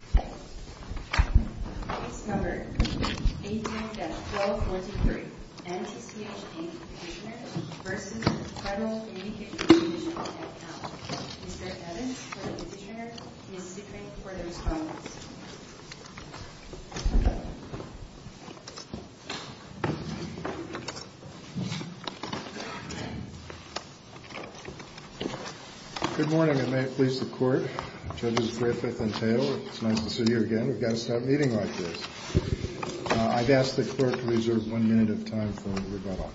18-1243 NTCH, Inc. v. Federal Communications Commission, Fed. Mr. Evans for the petitioner, Ms. Zichring for the respondent. Good morning, and may it please the Court, Judges Griffith and Thale. It's nice to see you again. We've got to start meeting like this. I've asked the Court to reserve one minute of time for rebuttal.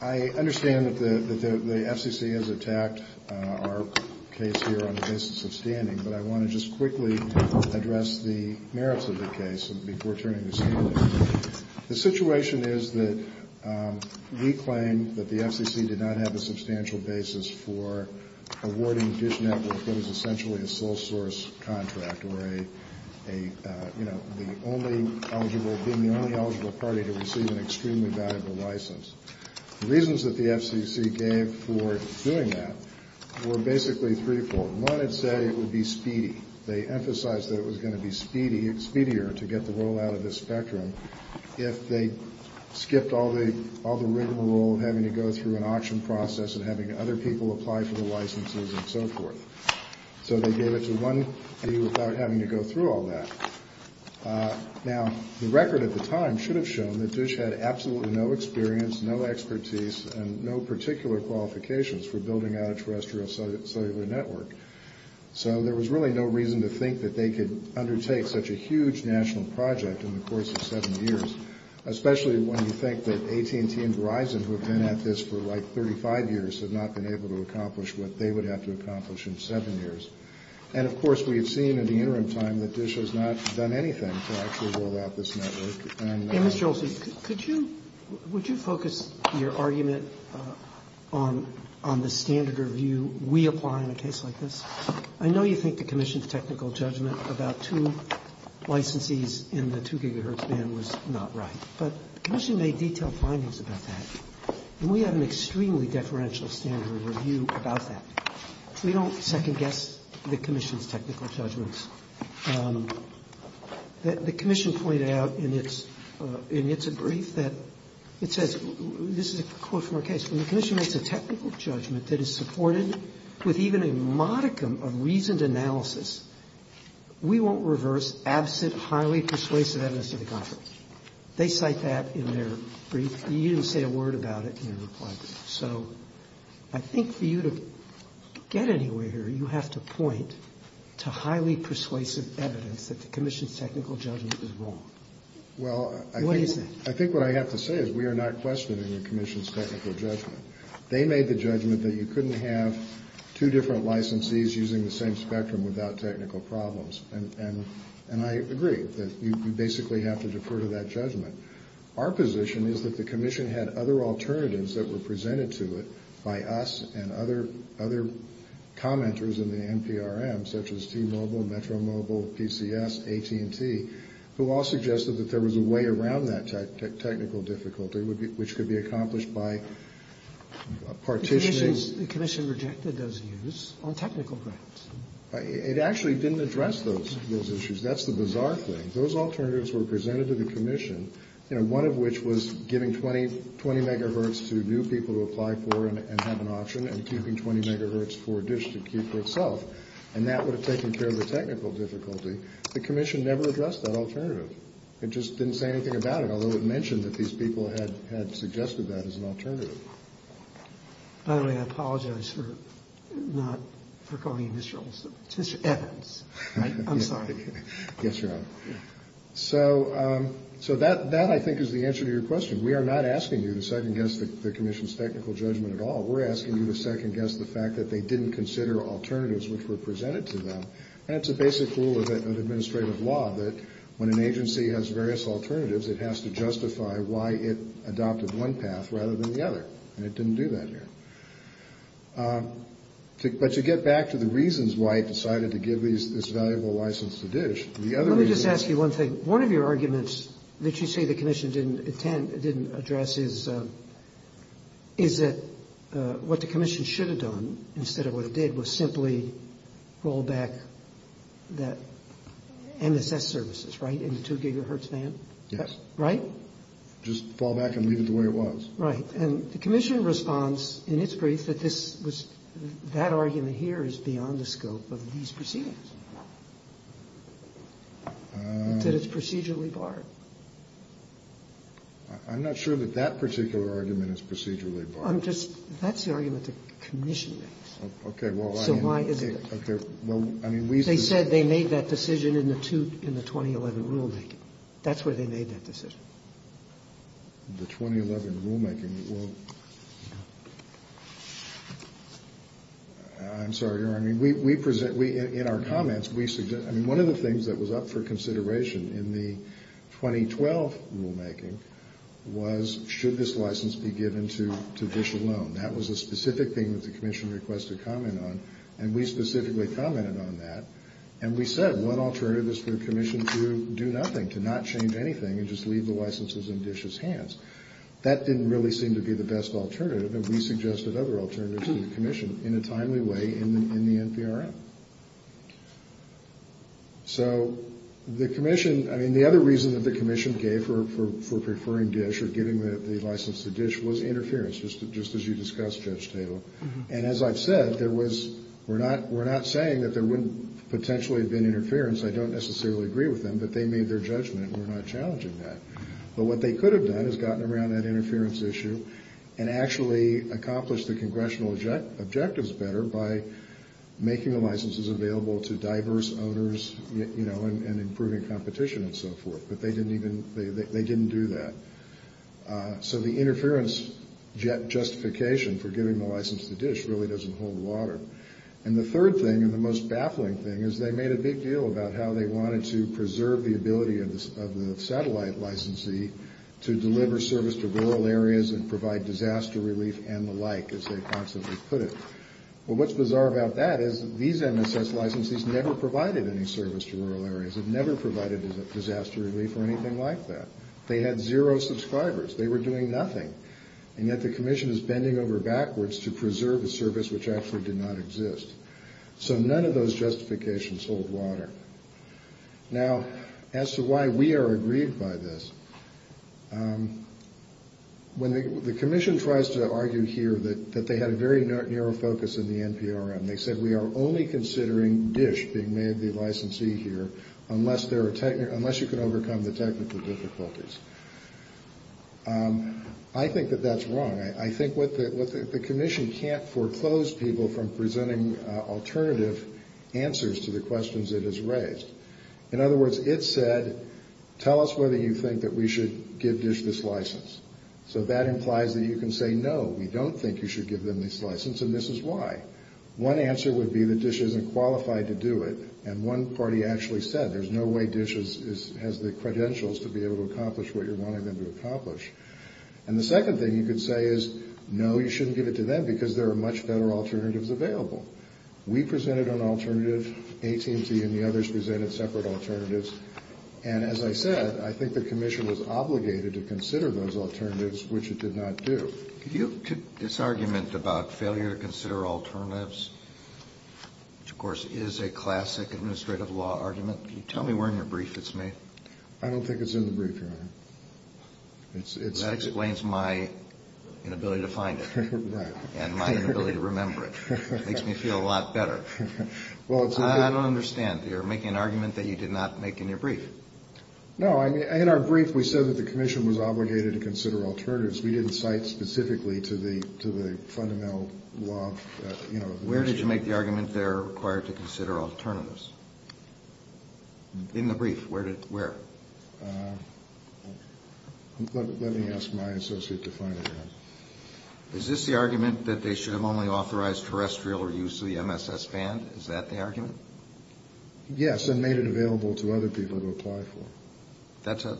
I understand that the FCC has attacked our case here on the basis of standing, but I want to just quickly address the merits of the case before turning this evening. The situation is that we claim that the FCC did not have a substantial basis for awarding Dish Network that was essentially a sole-source contract, or being the only eligible party to receive an extremely valuable license. The reasons that the FCC gave for doing that were basically threefold. One, it said it would be speedy. They emphasized that it was going to be speedier to get the roll out of this spectrum if they skipped all the rigmarole of having to go through an auction process and having other people apply for the licenses and so forth. So they gave it to one view without having to go through all that. Now, the record at the time should have shown that Dish had absolutely no experience, no expertise, and no particular qualifications for building out a terrestrial cellular network. So there was really no reason to think that they could undertake such a huge national project in the course of seven years, especially when you think that AT&T and Verizon, who have been at this for like 35 years, have not been able to accomplish what they would have to accomplish in seven years. And, of course, we had seen in the interim time that Dish has not done anything to actually roll out this network. And Mr. Olson, could you – would you focus your argument on the standard review we apply in a case like this? I know you think the Commission's technical judgment about two licensees in the 2 gigahertz band was not right, but the Commission made detailed findings about that. And we had an extremely deferential standard review about that. We don't second-guess the Commission's technical judgments. The Commission pointed out in its – in its brief that it says – this is a quote from our case. When the Commission makes a technical judgment that is supported with even a modicum of reasoned analysis, we won't reverse absent highly persuasive evidence of the conflict. They cite that in their brief. You didn't say a word about it in your reply brief. So I think for you to get anywhere here, you have to point to highly persuasive evidence that the Commission's technical judgment is wrong. What do you say? Well, I think what I have to say is we are not questioning the Commission's technical judgment. They made the judgment that you couldn't have two different licensees using the same spectrum without technical problems. And I agree that you basically have to defer to that judgment. Our position is that the Commission had other alternatives that were presented to it by us and other commenters in the NPRM, such as T-Mobile, Metro-Mobile, PCS, AT&T, who all suggested that there was a way around that technical difficulty, which could be accomplished by partitioning. The Commission rejected those views on technical grounds. It actually didn't address those issues. That's the bizarre thing. If those alternatives were presented to the Commission, one of which was giving 20 megahertz to new people to apply for and have an option and keeping 20 megahertz for a dish to keep for itself, and that would have taken care of the technical difficulty, the Commission never addressed that alternative. It just didn't say anything about it, although it mentioned that these people had suggested that as an alternative. By the way, I apologize for not recalling Mr. Evans. I'm sorry. Yes, Your Honor. So that, I think, is the answer to your question. We are not asking you to second-guess the Commission's technical judgment at all. We're asking you to second-guess the fact that they didn't consider alternatives which were presented to them. And it's a basic rule of administrative law that when an agency has various alternatives, it has to justify why it adopted one path rather than the other, and it didn't do that here. But you get back to the reasons why it decided to give this valuable license to dish. Let me just ask you one thing. One of your arguments that you say the Commission didn't address is that what the Commission should have done, instead of what it did, was simply roll back that MSS services, right, in the 2 gigahertz band? Yes. Right? Just fall back and leave it the way it was. Right. And the Commission responds in its brief that this was – that argument here is beyond the scope of these proceedings, that it's procedurally barred. I'm not sure that that particular argument is procedurally barred. I'm just – that's the argument the Commission makes. Okay. So why is it? Okay. Well, I mean, we've been – That's where they made that decision. The 2011 rulemaking, well – I'm sorry, Your Honor. I mean, we present – in our comments, we – I mean, one of the things that was up for consideration in the 2012 rulemaking was should this license be given to dish alone. That was a specific thing that the Commission requested comment on, and we specifically commented on that. And we said one alternative is for the Commission to do nothing, to not change anything and just leave the licenses in dish's hands. That didn't really seem to be the best alternative, and we suggested other alternatives to the Commission in a timely way in the NPRM. So the Commission – I mean, the other reason that the Commission gave for preferring dish or giving the license to dish was interference, just as you discussed, Judge Taylor. And as I've said, there was – we're not saying that there wouldn't potentially have been interference. I don't necessarily agree with them, but they made their judgment. We're not challenging that. But what they could have done is gotten around that interference issue and actually accomplished the congressional objectives better by making the licenses available to diverse owners, you know, and improving competition and so forth. But they didn't even – they didn't do that. So the interference justification for giving the license to dish really doesn't hold water. And the third thing, and the most baffling thing, is they made a big deal about how they wanted to preserve the ability of the satellite licensee to deliver service to rural areas and provide disaster relief and the like, as they constantly put it. Well, what's bizarre about that is these MSS licensees never provided any service to rural areas. They've never provided disaster relief or anything like that. They had zero subscribers. They were doing nothing. And yet the commission is bending over backwards to preserve a service which actually did not exist. So none of those justifications hold water. Now, as to why we are aggrieved by this, when the commission tries to argue here that they had a very narrow focus in the NPRM, they said we are only considering dish being made the licensee here unless there are – unless you can overcome the technical difficulties. I think that that's wrong. I think what the – the commission can't foreclose people from presenting alternative answers to the questions it has raised. In other words, it said tell us whether you think that we should give dish this license. So that implies that you can say no, we don't think you should give them this license, and this is why. One answer would be that dish isn't qualified to do it. And one party actually said there's no way dish has the credentials to be able to accomplish what you're wanting them to accomplish. And the second thing you could say is no, you shouldn't give it to them because there are much better alternatives available. We presented an alternative. AT&T and the others presented separate alternatives. And as I said, I think the commission was obligated to consider those alternatives, which it did not do. Could you take this argument about failure to consider alternatives, which, of course, is a classic administrative law argument. Can you tell me where in your brief it's made? I don't think it's in the brief, Your Honor. That explains my inability to find it. Right. And my inability to remember it. It makes me feel a lot better. Well, it's in the brief. I don't understand. You're making an argument that you did not make in your brief. No. In our brief, we said that the commission was obligated to consider alternatives. We didn't cite specifically to the fundamental law. Where did you make the argument they're required to consider alternatives? In the brief. Where? Let me ask my associate to find it out. Is this the argument that they should have only authorized terrestrial use of the MSS band? Is that the argument? Yes, and made it available to other people to apply for.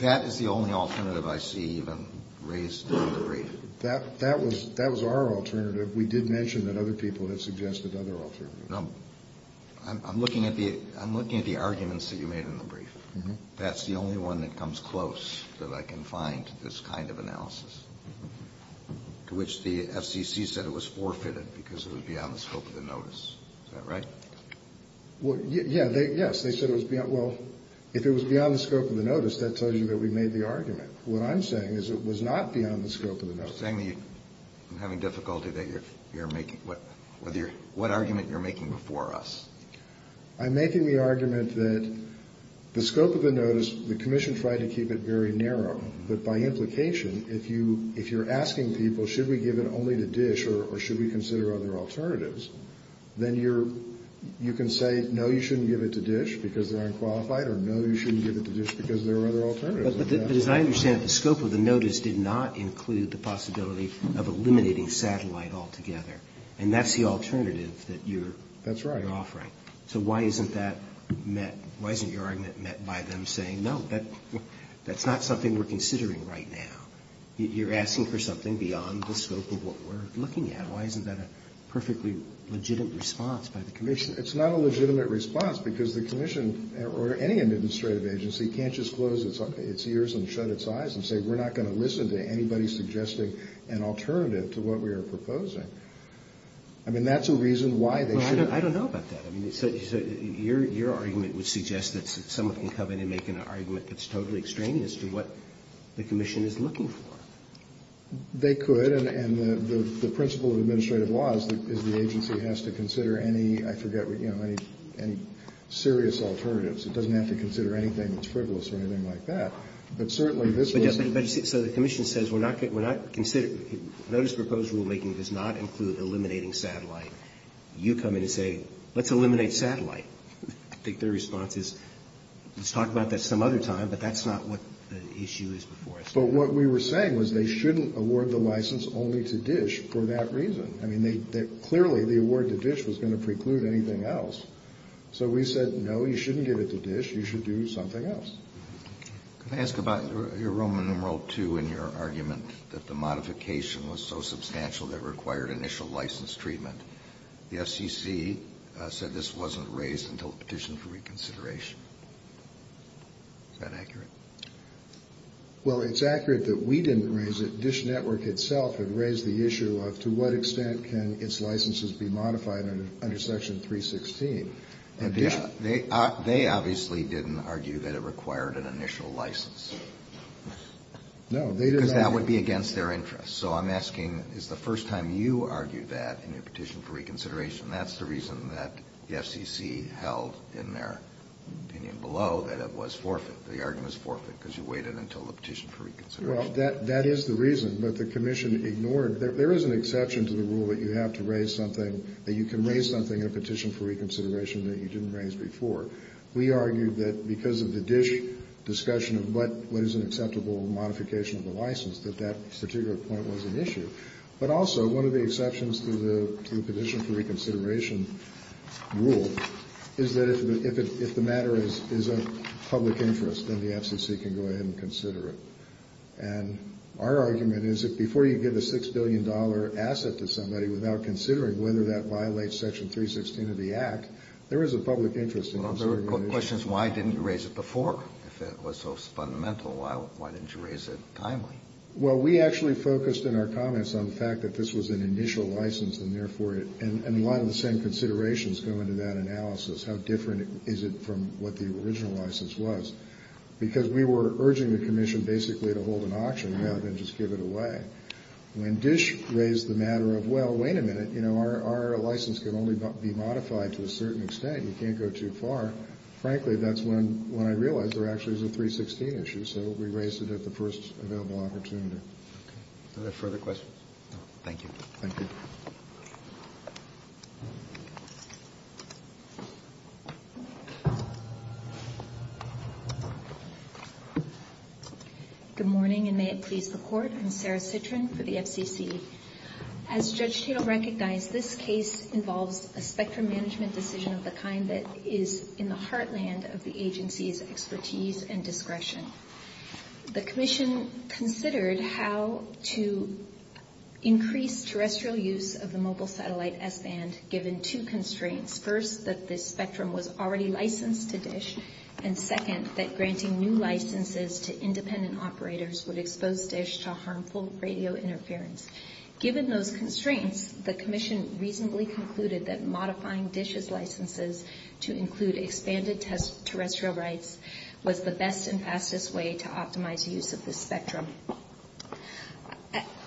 That is the only alternative I see even raised in the brief. That was our alternative. We did mention that other people had suggested other alternatives. No. I'm looking at the arguments that you made in the brief. That's the only one that comes close that I can find to this kind of analysis, to which the FCC said it was forfeited because it was beyond the scope of the notice. Is that right? Yes. Well, if it was beyond the scope of the notice, that tells you that we made the argument. What I'm saying is it was not beyond the scope of the notice. You're saying that you're having difficulty that you're making what argument you're making before us. I'm making the argument that the scope of the notice, the commission tried to keep it very narrow, but by implication, if you're asking people should we give it only to DISH or should we consider other alternatives, then you can say no, you shouldn't give it to DISH because they're unqualified or no, you shouldn't give it to DISH because there are other alternatives. But as I understand it, the scope of the notice did not include the possibility of eliminating satellite altogether, and that's the alternative that you're offering. That's right. So why isn't that met? Why isn't your argument met by them saying no, that's not something we're considering right now? You're asking for something beyond the scope of what we're looking at. Why isn't that a perfectly legitimate response by the commission? It's not a legitimate response because the commission or any administrative agency can't just close its ears and shut its eyes and say we're not going to listen to anybody suggesting an alternative to what we are proposing. I mean, that's a reason why they should. Well, I don't know about that. I mean, so your argument would suggest that someone can come in and make an argument that's totally extreme as to what the commission is looking for. They could, and the principle of administrative law is the agency has to consider any, I forget, you know, any serious alternatives. It doesn't have to consider anything that's frivolous or anything like that. But certainly this was the case. So the commission says we're not considering, notice proposed rulemaking does not include eliminating satellite. You come in and say let's eliminate satellite. I think their response is let's talk about that some other time, but that's not what the issue is before us. But what we were saying was they shouldn't award the license only to DISH for that reason. I mean, clearly the award to DISH was going to preclude anything else. So we said no, you shouldn't give it to DISH. You should do something else. Can I ask about your Roman numeral two in your argument that the modification was so substantial that it required initial license treatment? The FCC said this wasn't raised until the petition for reconsideration. Is that accurate? Well, it's accurate that we didn't raise it. DISH network itself had raised the issue of to what extent can its licenses be modified under section 316. They obviously didn't argue that it required an initial license. No. Because that would be against their interest. So I'm asking is the first time you argued that in your petition for reconsideration, that's the reason that the FCC held in their opinion below that it was forfeit, the argument is forfeit because you waited until the petition for reconsideration. Well, that is the reason. But the commission ignored it. There is an exception to the rule that you have to raise something, that you can raise something in a petition for reconsideration that you didn't raise before. We argued that because of the DISH discussion of what is an acceptable modification of the license, that that particular point was an issue. But also one of the exceptions to the petition for reconsideration rule is that if the matter is of public interest, then the FCC can go ahead and consider it. And our argument is that before you give a $6 billion asset to somebody without considering whether that violates section 316 of the act, there is a public interest in considering it. Well, the question is why didn't you raise it before if it was so fundamental? Why didn't you raise it timely? Well, we actually focused in our comments on the fact that this was an initial license, and a lot of the same considerations go into that analysis. How different is it from what the original license was? Because we were urging the commission basically to hold an auction rather than just give it away. When DISH raised the matter of, well, wait a minute, our license can only be modified to a certain extent. We can't go too far. Frankly, that's when I realized there actually was a 316 issue. And so we raised it at the first available opportunity. Okay. Are there further questions? No. Thank you. Thank you. Good morning, and may it please the Court. I'm Sarah Citrin for the FCC. As Judge Tatel recognized, this case involves a spectrum management decision of the kind that is in the heartland of the agency's expertise and discretion. The commission considered how to increase terrestrial use of the mobile satellite S-band given two constraints. First, that this spectrum was already licensed to DISH, and second, that granting new licenses to independent operators would expose DISH to harmful radio interference. Given those constraints, the commission reasonably concluded that modifying DISH's licenses to include expanded terrestrial rights was the best and fastest way to optimize use of this spectrum.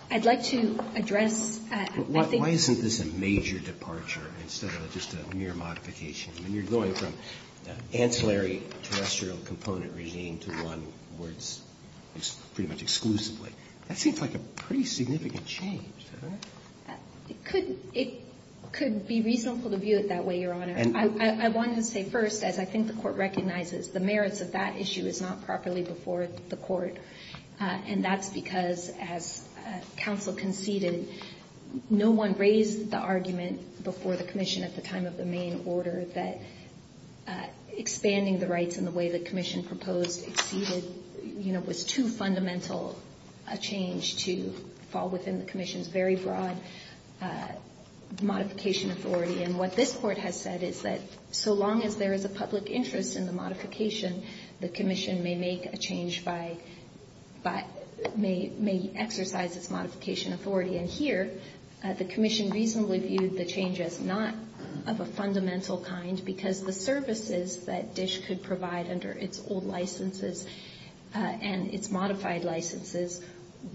I'd like to address, I think — Why isn't this a major departure instead of just a mere modification? I mean, you're going from ancillary terrestrial component regime to one where it's pretty much exclusively. That seems like a pretty significant change, doesn't it? It could be reasonable to view it that way, Your Honor. I wanted to say first, as I think the Court recognizes, the merits of that issue is not properly before the Court. And that's because, as counsel conceded, no one raised the argument before the commission at the time of the Maine order that expanding the rights in the way the commission proposed exceeded, you know, was too fundamental a change to fall within the commission's very broad modification authority. And what this Court has said is that so long as there is a public interest in the modification, the commission may make a change by — may exercise its modification authority. And here, the commission reasonably viewed the change as not of a fundamental kind because the services that DISH could provide under its old licenses and its modified licenses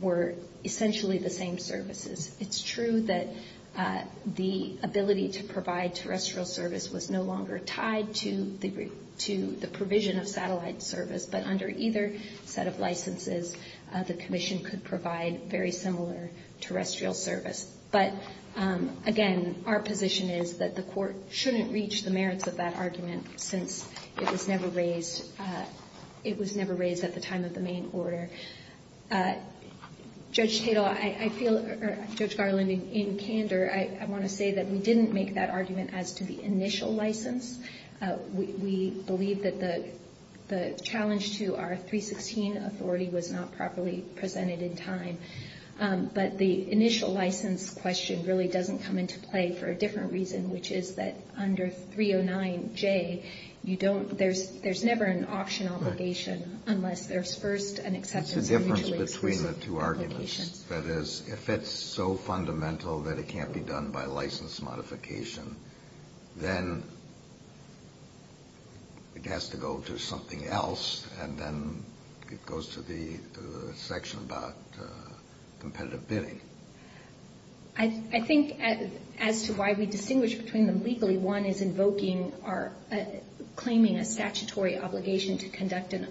were essentially the same services. It's true that the ability to provide terrestrial service was no longer tied to the provision of satellite service, but under either set of licenses, the commission could provide very similar terrestrial service. But, again, our position is that the Court shouldn't reach the merits of that argument since it was never raised at the time of the Maine order. Judge Tatel, I feel — or Judge Garland, in candor, I want to say that we didn't make that argument as to the initial license. We believe that the challenge to our 316 authority was not properly presented in time. But the initial license question really doesn't come into play for a different reason, which is that under 309J, you don't — there's never an option obligation unless there's first an acceptance of mutually exclusive applications. It's the difference between the two arguments. That is, if it's so fundamental that it can't be done by license modification, then it has to go to something else, and then it goes to the section about competitive bidding. I think as to why we distinguish between them legally, one is invoking or claiming a statutory obligation to conduct an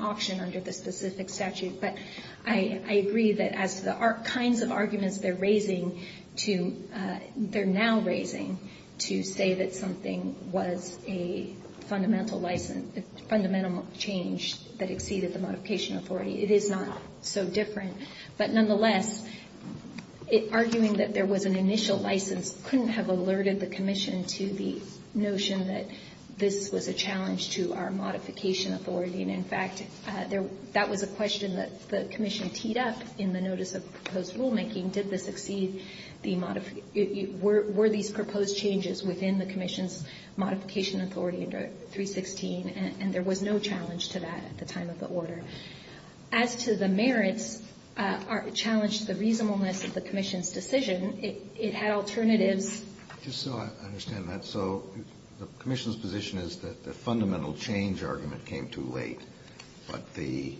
auction under the specific statute. But I agree that as to the kinds of arguments they're raising to — they're now raising to say that something was a fundamental license, a fundamental change that exceeded the modification authority, it is not so different. But nonetheless, arguing that there was an initial license couldn't have alerted the commission to the notion that this was a challenge to our modification authority. And in fact, that was a question that the commission teed up in the notice of proposed rulemaking. Did this exceed the — were these proposed changes within the commission's modification authority under 316? And there was no challenge to that at the time of the order. As to the merits challenged the reasonableness of the commission's decision, it had alternatives. Kennedy. Just so I understand that. So the commission's position is that the fundamental change argument came too late, but the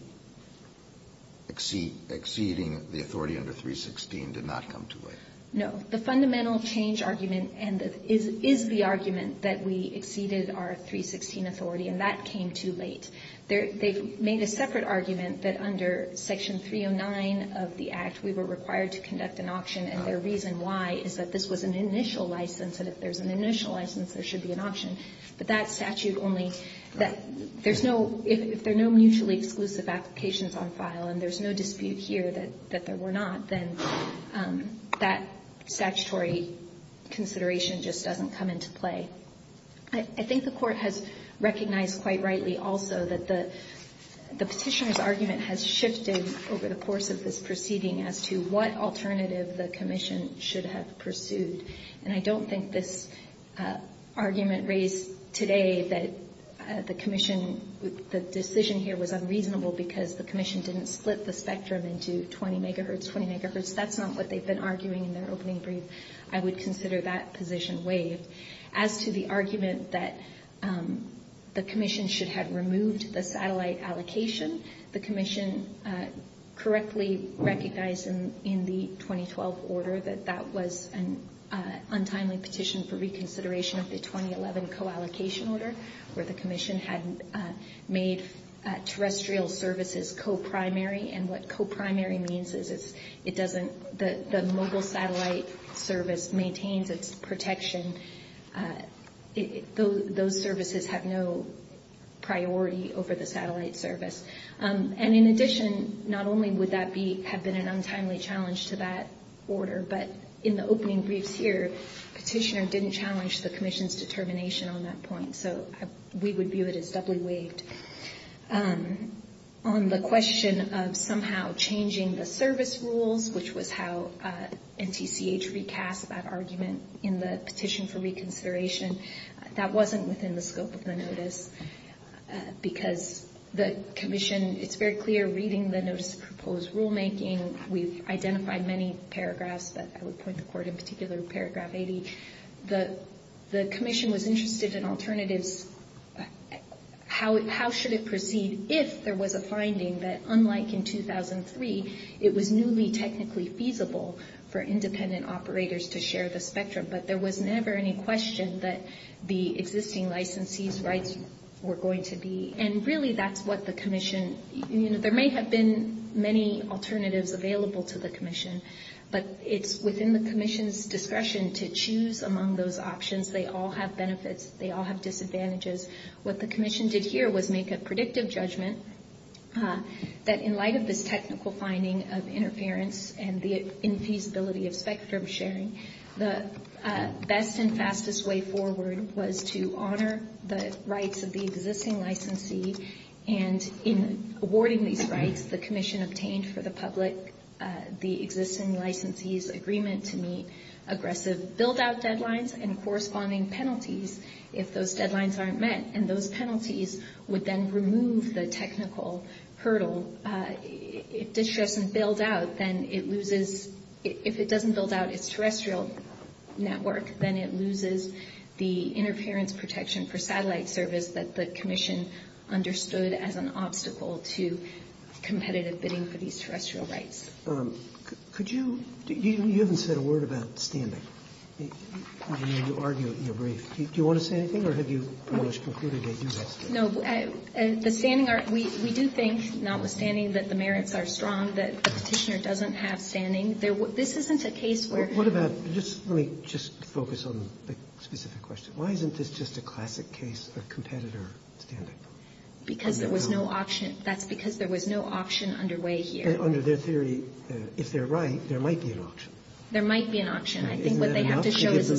exceeding the authority under 316 did not come too late? No. The fundamental change argument is the argument that we exceeded our 316 authority, and that came too late. They've made a separate argument that under Section 309 of the Act we were required to conduct an auction, and their reason why is that this was an initial license, and if there's an initial license, there should be an auction. But that statute only — there's no — if there are no mutually exclusive applications on file, and there's no dispute here that there were not, then that statutory consideration just doesn't come into play. I think the Court has recognized quite rightly also that the Petitioner's argument has shifted over the course of this proceeding as to what alternative the commission should have pursued. And I don't think this argument raised today that the commission — the decision here was unreasonable because the commission didn't split the spectrum into 20 megahertz, 20 megahertz. That's not what they've been arguing in their opening brief. I would consider that position waived. As to the argument that the commission should have removed the satellite allocation, the commission correctly recognized in the 2012 order that that was an untimely petition for reconsideration of the 2011 co-allocation order, where the commission had made terrestrial services co-primary. And what co-primary means is it doesn't — the mobile satellite service maintains its protection. Those services have no priority over the satellite service. And in addition, not only would that be — have been an untimely challenge to that order, but in the opening briefs here, Petitioner didn't challenge the commission's determination on that point. So we would view it as doubly waived. On the question of somehow changing the service rules, which was how NTCH recast that argument in the petition for reconsideration, that wasn't within the scope of the notice because the commission — it's very clear reading the notice of proposed rulemaking, we've identified many paragraphs, but I would point the court in particular to paragraph 80. The commission was interested in alternatives. How should it proceed if there was a finding that, unlike in 2003, it was newly technically feasible for independent operators to share the spectrum, but there was never any question that the existing licensees' rights were going to be — and really that's what the commission — there may have been many alternatives available to the commission, but it's within the commission's discretion to choose among those options. They all have benefits. They all have disadvantages. What the commission did here was make a predictive judgment that, in light of this technical finding of interference and the infeasibility of spectrum sharing, the best and fastest way forward was to honor the rights of the existing licensee, and in awarding these rights, the commission obtained for the public the existing licensee's agreement to meet aggressive build-out deadlines and corresponding penalties if those deadlines aren't met, and those penalties would then remove the technical hurdle. If distrust doesn't build out, then it loses — if it doesn't build out its terrestrial network, then it loses the interference protection for satellite service that the commission understood as an obstacle to competitive bidding for these terrestrial rights. Roberts. Could you — you haven't said a word about standing. I mean, you argue it in your brief. Do you want to say anything, or have you almost concluded that you have said it? No. The standing are — we do think, notwithstanding that the merits are strong, that the Petitioner doesn't have standing. This isn't a case where — What about — let me just focus on the specific question. Why isn't this just a classic case of competitor standing? Because there was no option. That's because there was no option underway here. Under their theory, if they're right, there might be an option. There might be an option. I think what they have to show is a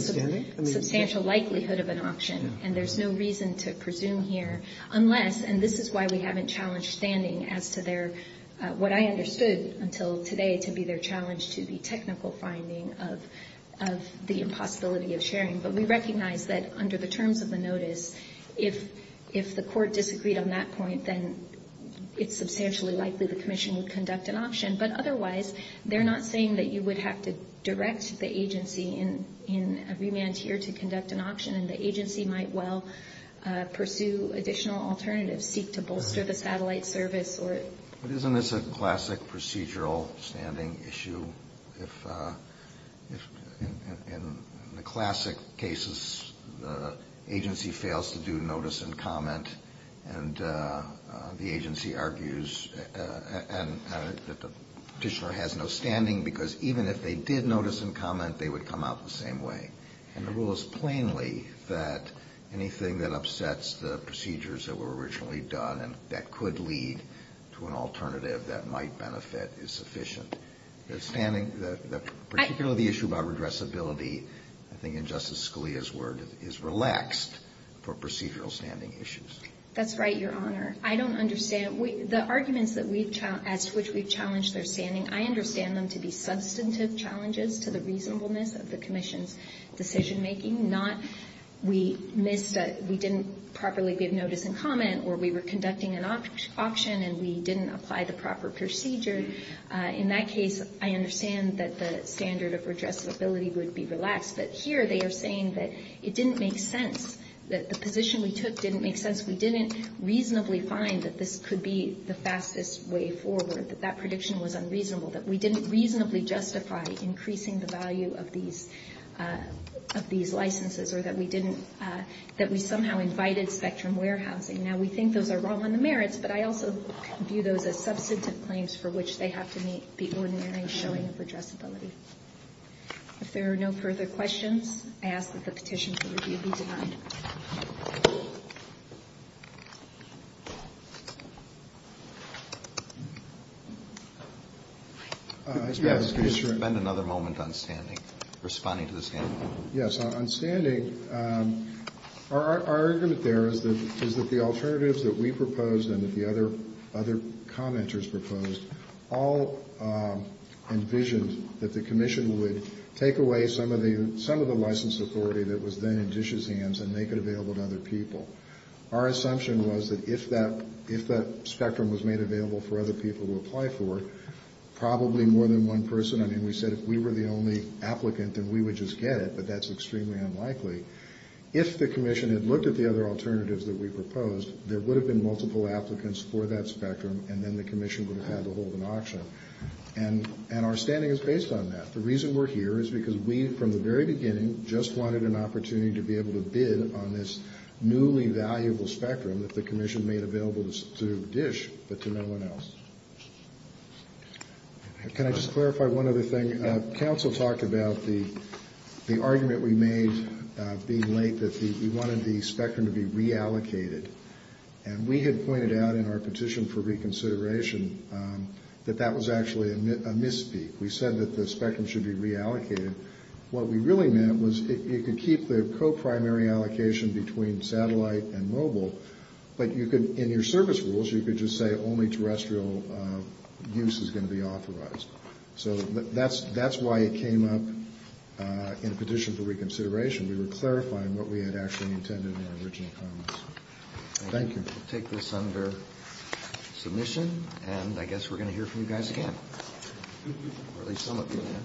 substantial likelihood of an option, and there's no reason to presume here unless — and this is why we haven't challenged standing as to their — what I understood until today to be their challenge to the technical finding of the impossibility of sharing. But we recognize that under the terms of the notice, if the Court disagreed on that point, then it's substantially likely the Commission would conduct an option. But otherwise, they're not saying that you would have to direct the agency in a remand here to conduct an option, and the agency might well pursue additional alternatives, seek to bolster the satellite service or — But isn't this a classic procedural standing issue? In the classic cases, the agency fails to do notice and comment, and the agency argues that the petitioner has no standing because even if they did notice and comment, they would come out the same way. And the rule is plainly that anything that upsets the procedures that were originally done and that could lead to an alternative that might benefit is sufficient. The standing — particularly the issue about redressability, I think in Justice Scalia's word, is relaxed for procedural standing issues. That's right, Your Honor. I don't understand — the arguments that we've — as to which we've challenged their standing, I understand them to be substantive challenges to the reasonableness of the Commission's decision-making, not we missed a — we didn't properly give notice and comment, or we were conducting an option and we didn't apply the proper procedure. In that case, I understand that the standard of redressability would be relaxed. But here they are saying that it didn't make sense, that the position we took didn't make sense. We didn't reasonably find that this could be the fastest way forward, that that prediction was unreasonable, that we didn't reasonably justify increasing the value of these licenses, or that we didn't — that we somehow invited spectrum warehousing. Now, we think those are wrong on the merits, but I also view those as substantive claims for which they have to meet the ordinary showing of redressability. If there are no further questions, I ask that the petition for review be denied. Yes. Could you spend another moment on standing, responding to the standing? Yes. On standing, our argument there is that — is that the alternatives that we proposed and that the other — other commenters proposed all envisioned that the commission would take away some of the — some of the license authority that was then in DISH's hands and make it available to other people. Our assumption was that if that — if that spectrum was made available for other people to apply for, probably more than one person — I mean, we said if we were the only applicant, then we would just get it, but that's extremely unlikely. If the commission had looked at the other alternatives that we proposed, there would have been multiple applicants for that spectrum, and then the commission would have had to hold an auction. And our standing is based on that. The reason we're here is because we, from the very beginning, just wanted an opportunity to be able to bid on this newly valuable spectrum that the commission made available to DISH but to no one else. Can I just clarify one other thing? Council talked about the argument we made being late that we wanted the spectrum to be reallocated. And we had pointed out in our petition for reconsideration that that was actually a misspeak. We said that the spectrum should be reallocated. What we really meant was it could keep the co-primary allocation between satellite and mobile, but you could — in your service rules, you could just say only terrestrial use is going to be authorized. So that's why it came up in the petition for reconsideration. We were clarifying what we had actually intended in our original comments. Thank you. We'll take this under submission, and I guess we're going to hear from you guys again, or at least some of you.